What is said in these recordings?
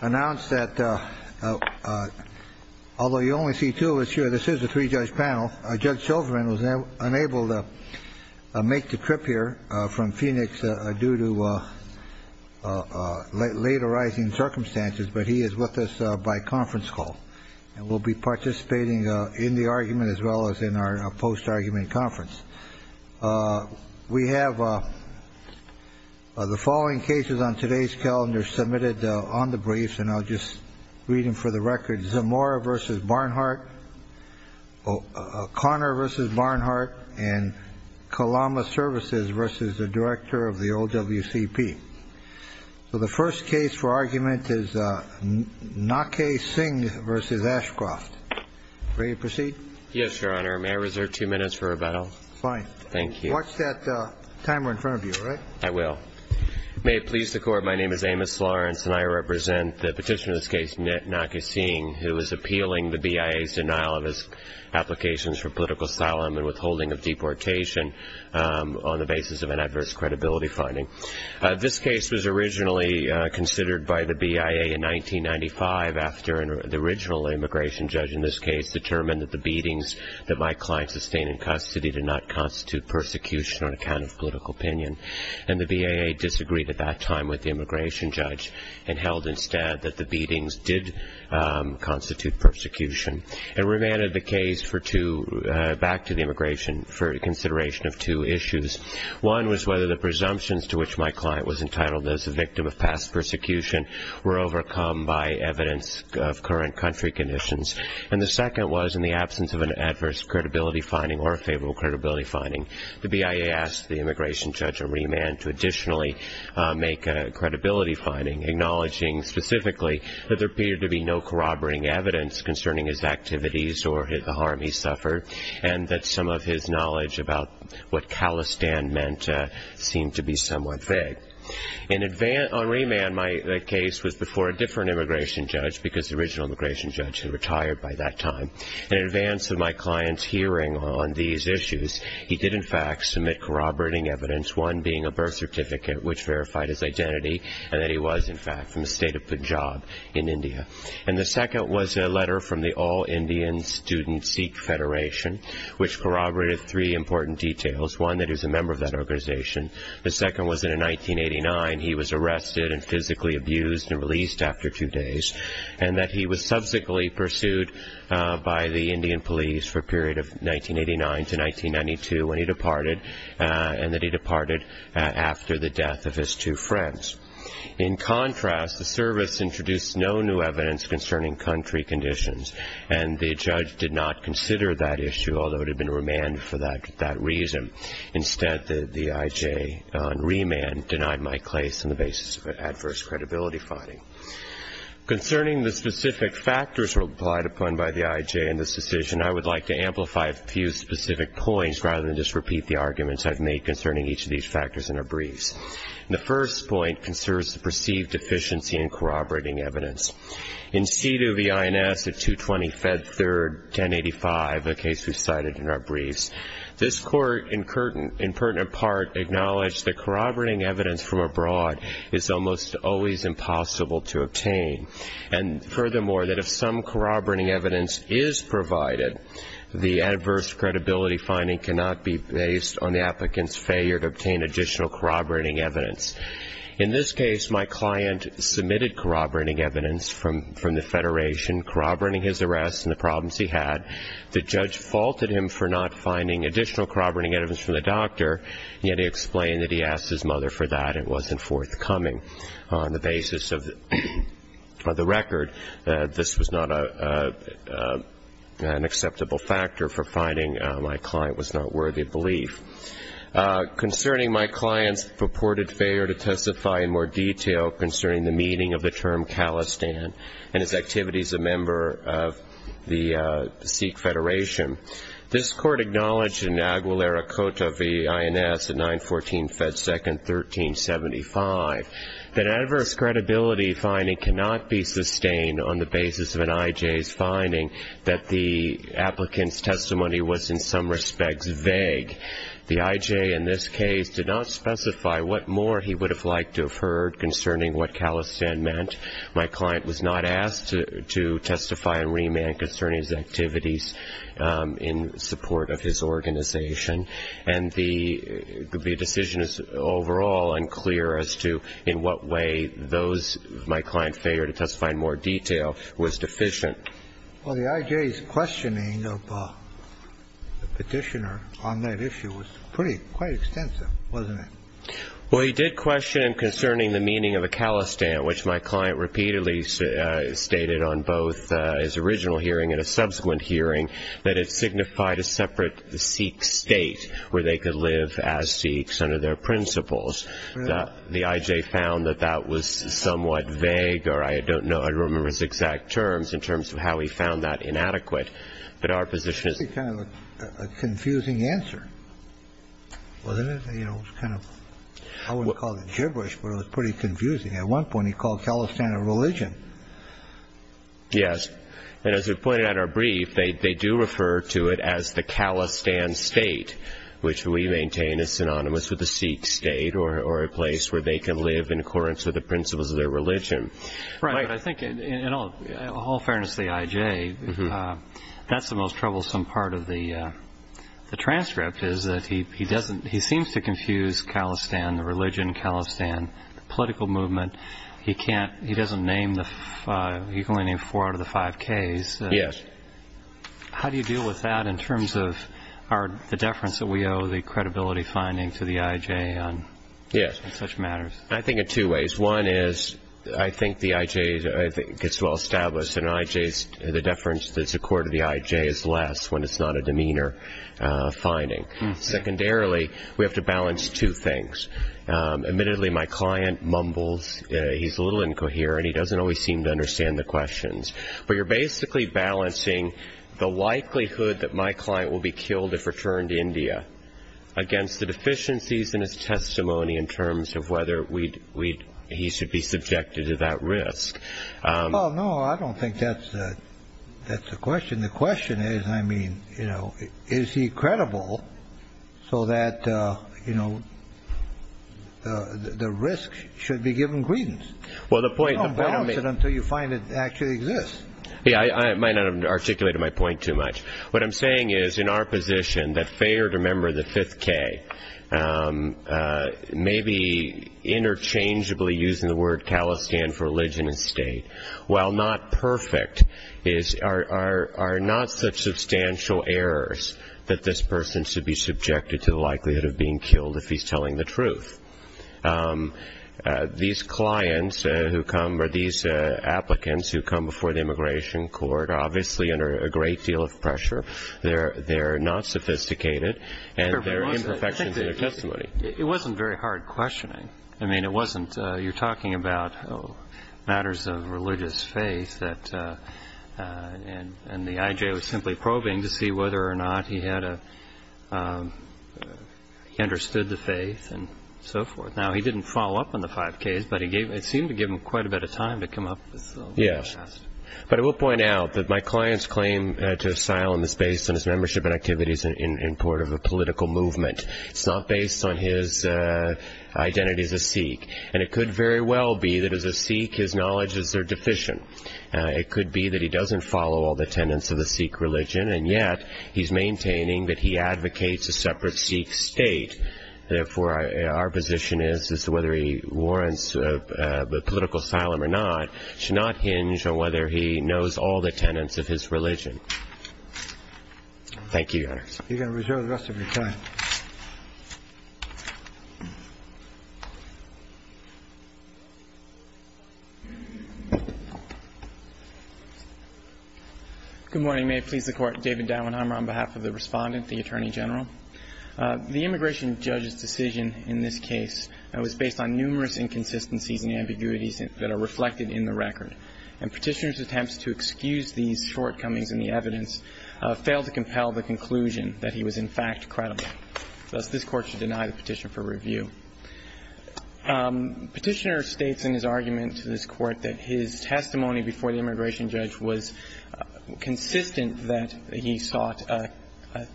announced that although you only see two of us here, this is a three-judge panel. Judge Silverman was unable to make the trip here from Phoenix due to late arising circumstances, but he is with us by conference call and will be participating in the argument as well as in our post-argument conference. We have the following cases on today's calendar submitted on the briefs, and I'll just read them for the record. Zamora v. Barnhart, Conner v. Barnhart, and Kalama Services v. the Director of the OWCP. So the first case for argument is Nake Singh v. Ashcroft. Ready to proceed? Yes, Your Honor. May I reserve two minutes for rebuttal? Fine. Thank you. Watch that timer in front of you, all right? I will. May it please the Court, my name is Amos Lawrence, and I represent the petitioner of this case, Nit Nake Singh, who is appealing the BIA's denial of his applications for political asylum and withholding of deportation on the basis of an adverse credibility finding. This case was originally considered by the BIA in 1995 after the original immigration judge in this case determined that the beatings that my client sustained in custody did not constitute persecution on account of political opinion, and the BIA disagreed at that time with the immigration judge and held instead that the beatings did constitute persecution. It remanded the case back to the immigration for consideration of two issues. One was whether the presumptions to which my client was entitled as a victim of past persecution were overcome by evidence of current country conditions, and the second was in the absence of an adverse credibility finding or a favorable credibility finding, the BIA asked the immigration judge to remand to additionally make a credibility finding, acknowledging specifically that there appeared to be no corroborating evidence concerning his activities or the harm he suffered, and that some of his knowledge about what Khalistan meant seemed to be somewhat vague. On remand, my case was before a different immigration judge because the original immigration judge had retired by that time. In advance of my client's hearing on these issues, he did in fact submit corroborating evidence, one being a birth certificate which verified his identity and that he was in fact from the state of Punjab in India. And the second was a letter from the All Indian Student Sikh Federation which corroborated three important details. One, that he was a member of that organization. The second was that in 1989 he was arrested and physically abused and released after two days, and that he was subsequently pursued by the Indian police for a period of 1989 to 1992 when he departed, and that he departed after the death of his two friends. In contrast, the service introduced no new evidence concerning country conditions, and the judge did not consider that issue, although it had been remanded for that reason. Instead, the IJ on remand denied my case on the basis of adverse credibility finding. Concerning the specific factors applied upon by the IJ in this decision, I would like to amplify a few specific points rather than just repeat the arguments I've made concerning each of these factors in a brief. The first point concerns the perceived deficiency in corroborating evidence. In seat of the INS at 220 Fed Third, 1085, a case we cited in our briefs, this court in pertinent part acknowledged that corroborating evidence from abroad is almost always impossible to obtain, and furthermore that if some corroborating evidence is provided, the adverse credibility finding cannot be based on the applicant's failure to obtain additional corroborating evidence. In this case, my client submitted corroborating evidence from the Federation, corroborating his arrest and the problems he had. The judge faulted him for not finding additional corroborating evidence from the doctor, yet he explained that he asked his mother for that and it wasn't forthcoming. On the basis of the record, this was not an acceptable factor for finding my client was not worthy of belief. Concerning my client's purported failure to testify in more detail concerning the meaning of the term Calistan and its activities as a member of the Sikh Federation, this court acknowledged in Agualera Cota v. INS at 914 Fed Second, 1375, that adverse credibility finding cannot be sustained on the basis of an IJ's finding that the applicant's testimony was in some respects vague. The IJ in this case did not specify what more he would have liked to have heard concerning what Calistan meant. My client was not asked to testify and remand concerning his activities in support of his organization, and the decision is overall unclear as to in what way my client's failure to testify in more detail was deficient. Well, the IJ's questioning of the petitioner on that issue was pretty quite extensive, wasn't it? Well, he did question concerning the meaning of a Calistan, which my client repeatedly stated on both his original hearing and a subsequent hearing, that it signified a separate Sikh state where they could live as Sikhs under their principles. The IJ found that that was somewhat vague, or I don't know. I don't remember his exact terms in terms of how he found that inadequate. It's a kind of a confusing answer, wasn't it? It was kind of, I wouldn't call it gibberish, but it was pretty confusing. At one point he called Calistan a religion. Yes, and as we pointed out in our brief, they do refer to it as the Calistan state, which we maintain is synonymous with the Sikh state or a place where they can live in accordance with the principles of their religion. Right, but I think in all fairness to the IJ, that's the most troublesome part of the transcript, is that he seems to confuse Calistan, the religion, Calistan, the political movement. He can only name four out of the five Ks. Yes. How do you deal with that in terms of the deference that we owe, the credibility finding to the IJ on such matters? I think in two ways. One is I think the IJ gets well established and the deference that's accorded to the IJ is less when it's not a demeanor finding. Secondarily, we have to balance two things. Admittedly, my client mumbles. He's a little incoherent. He doesn't always seem to understand the questions. But you're basically balancing the likelihood that my client will be killed if returned to India against the deficiencies in his testimony in terms of whether he should be subjected to that risk. Well, no, I don't think that's the question. The question is, I mean, is he credible so that the risk should be given credence? You don't balance it until you find it actually exists. I might not have articulated my point too much. What I'm saying is in our position that Fayard, a member of the 5th K, may be interchangeably using the word Talestan for religion and state, while not perfect, are not such substantial errors that this person should be subjected to the likelihood of being killed if he's telling the truth. These clients who come, or these applicants who come before the immigration court, are obviously under a great deal of pressure. They're not sophisticated, and there are imperfections in their testimony. It wasn't very hard questioning. I mean, it wasn't, you're talking about matters of religious faith, and the I.J. was simply probing to see whether or not he understood the faith and so forth. Now, he didn't follow up on the 5th Ks, but it seemed to give him quite a bit of time to come up with something. Yes, but I will point out that my client's claim to asylum is based on his membership and activities in part of a political movement. It's not based on his identity as a Sikh, and it could very well be that as a Sikh his knowledges are deficient. It could be that he doesn't follow all the tenets of the Sikh religion, and yet he's maintaining that he advocates a separate Sikh state. Therefore, our position is that whether he warrants political asylum or not should not hinge on whether he knows all the tenets of his religion. Thank you, Your Honor. You're going to reserve the rest of your time. Good morning. May it please the Court. David Dauenheimer on behalf of the Respondent, the Attorney General. The immigration judge's decision in this case was based on numerous inconsistencies and ambiguities that are reflected in the record, and Petitioner's attempts to excuse these shortcomings in the evidence failed to compel the conclusion that he was, in fact, credible. Thus, this Court should deny the petition for review. Petitioner states in his argument to this Court that his testimony before the immigration judge was consistent that he sought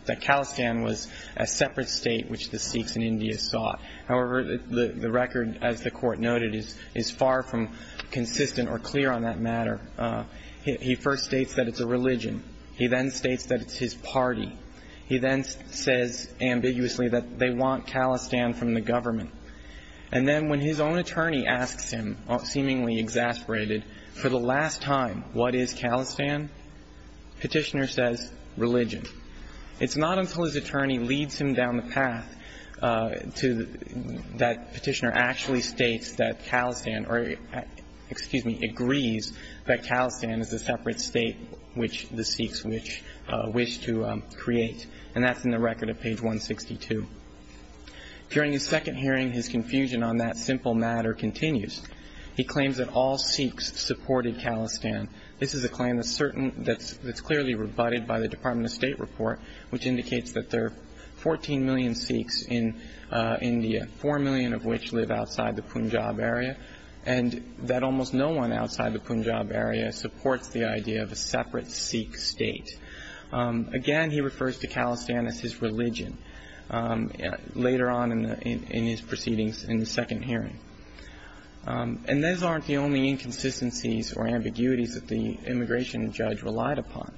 that Khalistan was a separate state which the Sikhs in India sought. However, the record, as the Court noted, is far from consistent or clear on that matter. He first states that it's a religion. He then states that it's his party. He then says ambiguously that they want Khalistan from the government. And then when his own attorney asks him, seemingly exasperated, for the last time what is Khalistan, Petitioner says religion. It's not until his attorney leads him down the path to that Petitioner actually states that Khalistan or, excuse me, agrees that Khalistan is a separate state which the Sikhs wish to create, and that's in the record at page 162. During his second hearing, his confusion on that simple matter continues. He claims that all Sikhs supported Khalistan. This is a claim that's clearly rebutted by the Department of State report, which indicates that there are 14 million Sikhs in India, 4 million of which live outside the Punjab area, and that almost no one outside the Punjab area supports the idea of a separate Sikh state. Again, he refers to Khalistan as his religion later on in his proceedings in the second hearing. And those aren't the only inconsistencies or ambiguities that the immigration judge relied upon.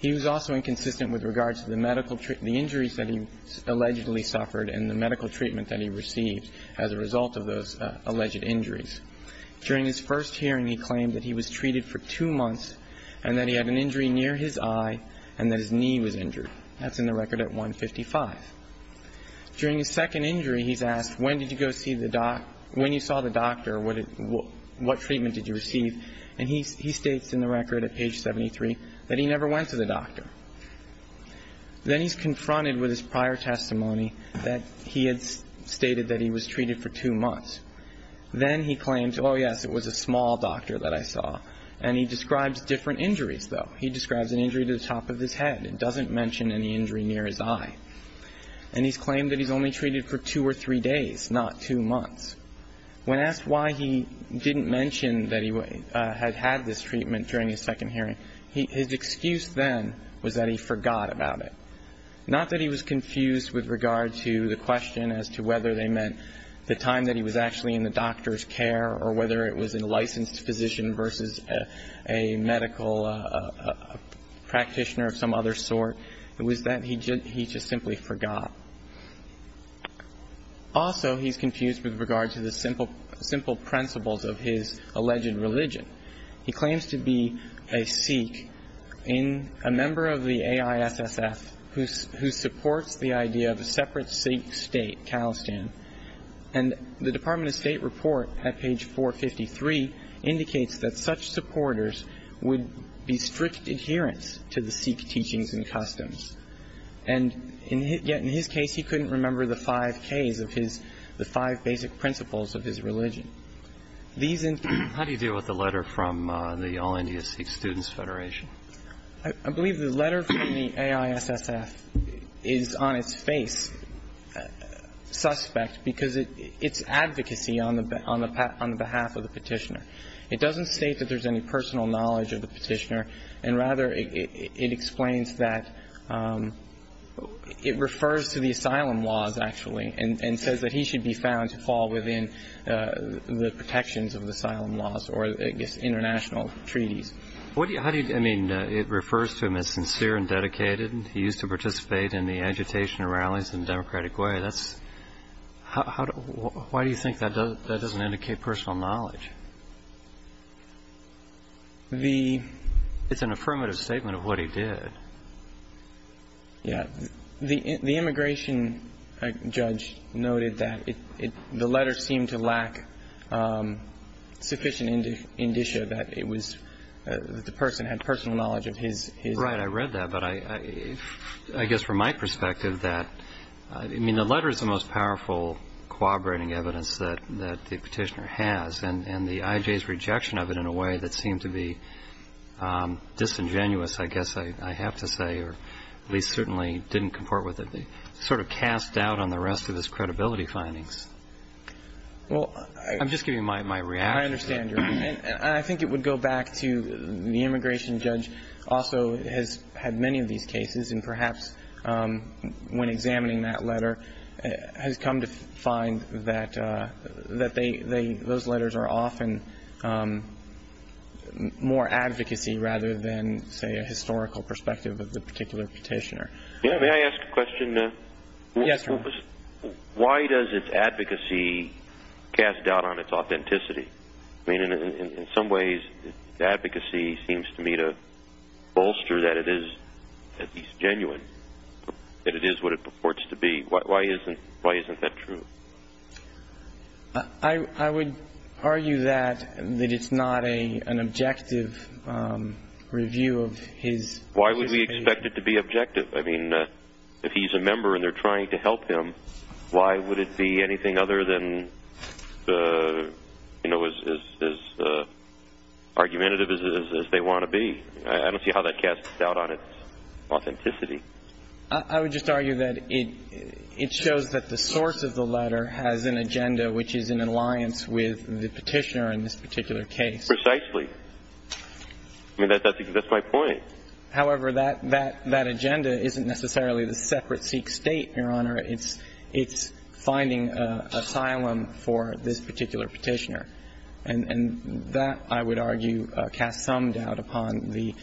He was also inconsistent with regards to the injuries that he allegedly suffered and the medical treatment that he received as a result of those alleged injuries. During his first hearing, he claimed that he was treated for two months and that he had an injury near his eye and that his knee was injured. That's in the record at 155. During his second injury, he's asked, when you saw the doctor, what treatment did you receive? And he states in the record at page 73 that he never went to the doctor. Then he's confronted with his prior testimony that he had stated that he was treated for two months. Then he claims, oh, yes, it was a small doctor that I saw. And he describes different injuries, though. He describes an injury to the top of his head and doesn't mention any injury near his eye. And he's claimed that he's only treated for two or three days, not two months. When asked why he didn't mention that he had had this treatment during his second hearing, his excuse then was that he forgot about it. Not that he was confused with regard to the question as to whether they meant the time that he was actually in the doctor's care or whether it was a licensed physician versus a medical practitioner of some other sort. It was that he just simply forgot. Also, he's confused with regard to the simple principles of his alleged religion. He claims to be a Sikh in a member of the AISSF who supports the idea of a separate Sikh state, And the Department of State report at page 453 indicates that such supporters would be strict adherents to the Sikh teachings and customs. And yet, in his case, he couldn't remember the five Ks of his, the five basic principles of his religion. How do you deal with the letter from the All India Sikh Students Federation? I believe the letter from the AISSF is on its face suspect because it's advocacy on the behalf of the Petitioner. It doesn't state that there's any personal knowledge of the Petitioner, and rather, it explains that it refers to the asylum laws, actually, and says that he should be found to fall within the protections of the asylum laws or, I guess, international treaties. I mean, it refers to him as sincere and dedicated. He used to participate in the agitation rallies in a democratic way. Why do you think that doesn't indicate personal knowledge? It's an affirmative statement of what he did. Yeah. The immigration judge noted that the letter seemed to lack sufficient indicia that it was, that the person had personal knowledge of his. Right. I read that. But I guess, from my perspective, that I mean, the letter is the most powerful corroborating evidence that the Petitioner has. And the IJ's rejection of it in a way that seemed to be disingenuous, I guess I have to say, or at least certainly didn't comport with it, sort of cast doubt on the rest of his credibility findings. Well, I'm just giving my reaction. I understand. And I think it would go back to the immigration judge also has had many of these cases, and perhaps when examining that letter has come to find that those letters are often more advocacy rather than, say, a historical perspective of the particular Petitioner. Yeah. May I ask a question? Yes, Your Honor. Why does its advocacy cast doubt on its authenticity? I mean, in some ways advocacy seems to me to bolster that it is at least genuine, that it is what it purports to be. Why isn't that true? I would argue that it's not an objective review of his case. Why would we expect it to be objective? I mean, if he's a member and they're trying to help him, why would it be anything other than as argumentative as they want to be? I don't see how that casts doubt on its authenticity. I would just argue that it shows that the source of the letter has an agenda which is in alliance with the Petitioner in this particular case. Precisely. I mean, that's my point. However, that agenda isn't necessarily the separate Sikh state, Your Honor. It's finding asylum for this particular Petitioner. And that, I would argue, casts some doubt upon the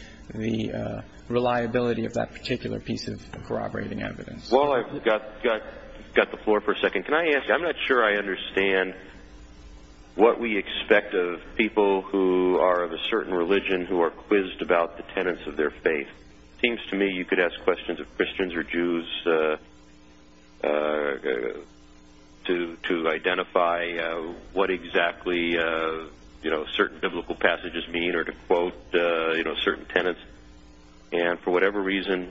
reliability of that particular piece of corroborating evidence. Well, I've got the floor for a second. Can I ask, I'm not sure I understand what we expect of people who are of a certain religion who are quizzed about the tenets of their faith. It seems to me you could ask questions of Christians or Jews to identify what exactly certain biblical passages mean or to quote certain tenets. And for whatever reason,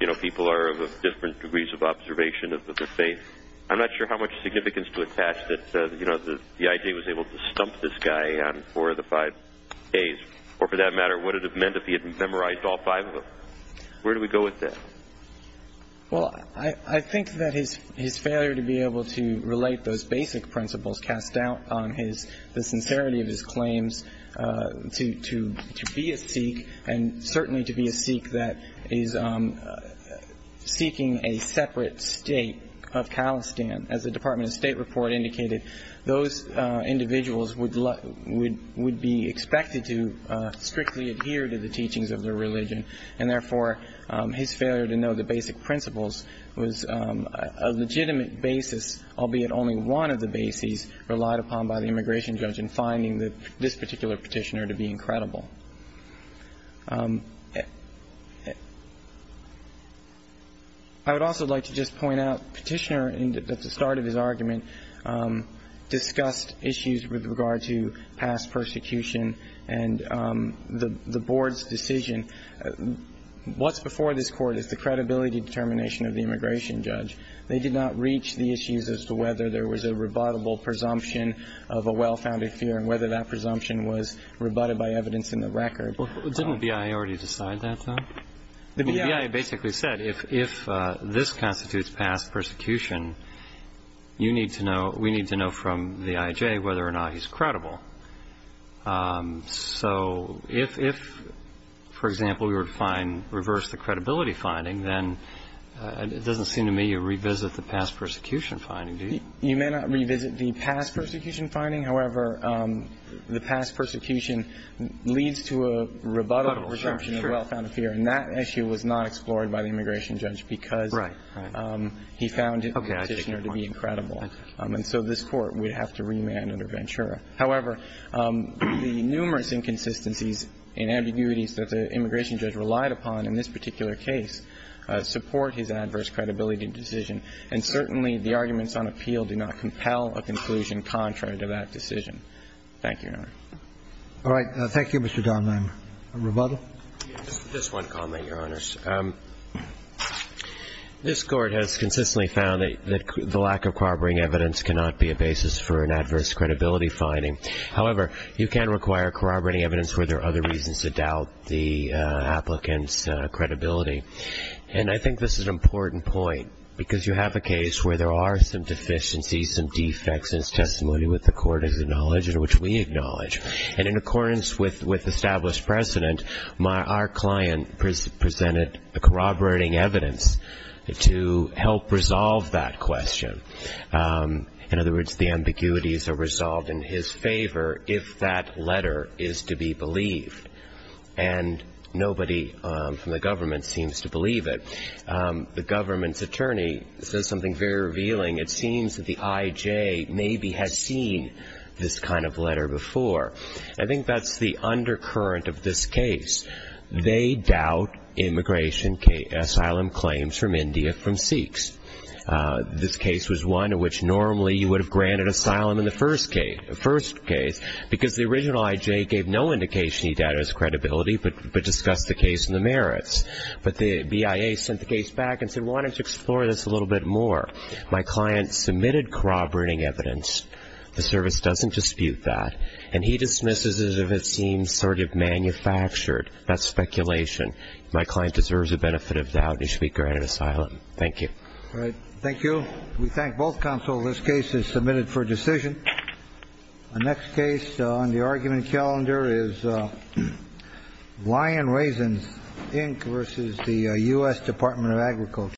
you know, people are of different degrees of observation of the faith. I'm not sure how much significance to attach that, you know, the IJ was able to stump this guy on four of the five days. Or for that matter, what it would have meant if he had memorized all five of them. Where do we go with that? Well, I think that his failure to be able to relate those basic principles cast doubt on his sincerity of his claims to be a Sikh and certainly to be a Sikh that is seeking a separate state of Kalestan. As the Department of State report indicated, those individuals would be expected to strictly adhere to the teachings of their religion. And therefore, his failure to know the basic principles was a legitimate basis, albeit only one of the bases relied upon by the immigration judge in finding this particular petitioner to be incredible. I would also like to just point out the petitioner at the start of his argument discussed issues with regard to past persecution and the board's decision. What's before this Court is the credibility determination of the immigration judge. They did not reach the issues as to whether there was a rebuttable presumption of a well-founded fear and whether that presumption was rebutted by evidence in the record. Didn't BIA already decide that, though? The BIA basically said if this constitutes past persecution, you need to know, we need to know from the IJ whether or not he's credible. So if, for example, you were to find reverse the credibility finding, then it doesn't seem to me you revisit the past persecution finding, do you? You may not revisit the past persecution finding. However, the past persecution leads to a rebuttable presumption of a well-founded fear. And that issue was not explored by the immigration judge because he found the petitioner to be incredible. And so this Court would have to remand under Ventura. However, the numerous inconsistencies and ambiguities that the immigration judge relied upon in this particular case support his adverse credibility decision, and certainly the arguments on appeal do not compel a conclusion contrary to that decision. Thank you, Your Honor. All right. Thank you, Mr. Dahnmeyer. Rebuttal? Just one comment, Your Honors. This Court has consistently found that the lack of corroborating evidence cannot be a basis for an adverse credibility finding. However, you can require corroborating evidence where there are other reasons to doubt the applicant's credibility. And I think this is an important point because you have a case where there are some deficiencies, some defects, and it's testimony that the Court has acknowledged and which we acknowledge. And in accordance with established precedent, our client presented corroborating evidence to help resolve that question. In other words, the ambiguities are resolved in his favor if that letter is to be believed. And nobody from the government seems to believe it. The government's attorney says something very revealing. It seems that the I.J. maybe has seen this kind of letter before. I think that's the undercurrent of this case. They doubt immigration asylum claims from India from Sikhs. This case was one in which normally you would have granted asylum in the first case because the original I.J. gave no indication he doubted his credibility but discussed the case and the merits. But the BIA sent the case back and said, why don't you explore this a little bit more? My client submitted corroborating evidence. The service doesn't dispute that. And he dismisses it as if it seems sort of manufactured. That's speculation. My client deserves the benefit of doubt. He should be granted asylum. Thank you. All right. Thank you. We thank both counsel. This case is submitted for decision. Our next case on the argument calendar is Lion Raisins, Inc., versus the U.S. Department of Agriculture.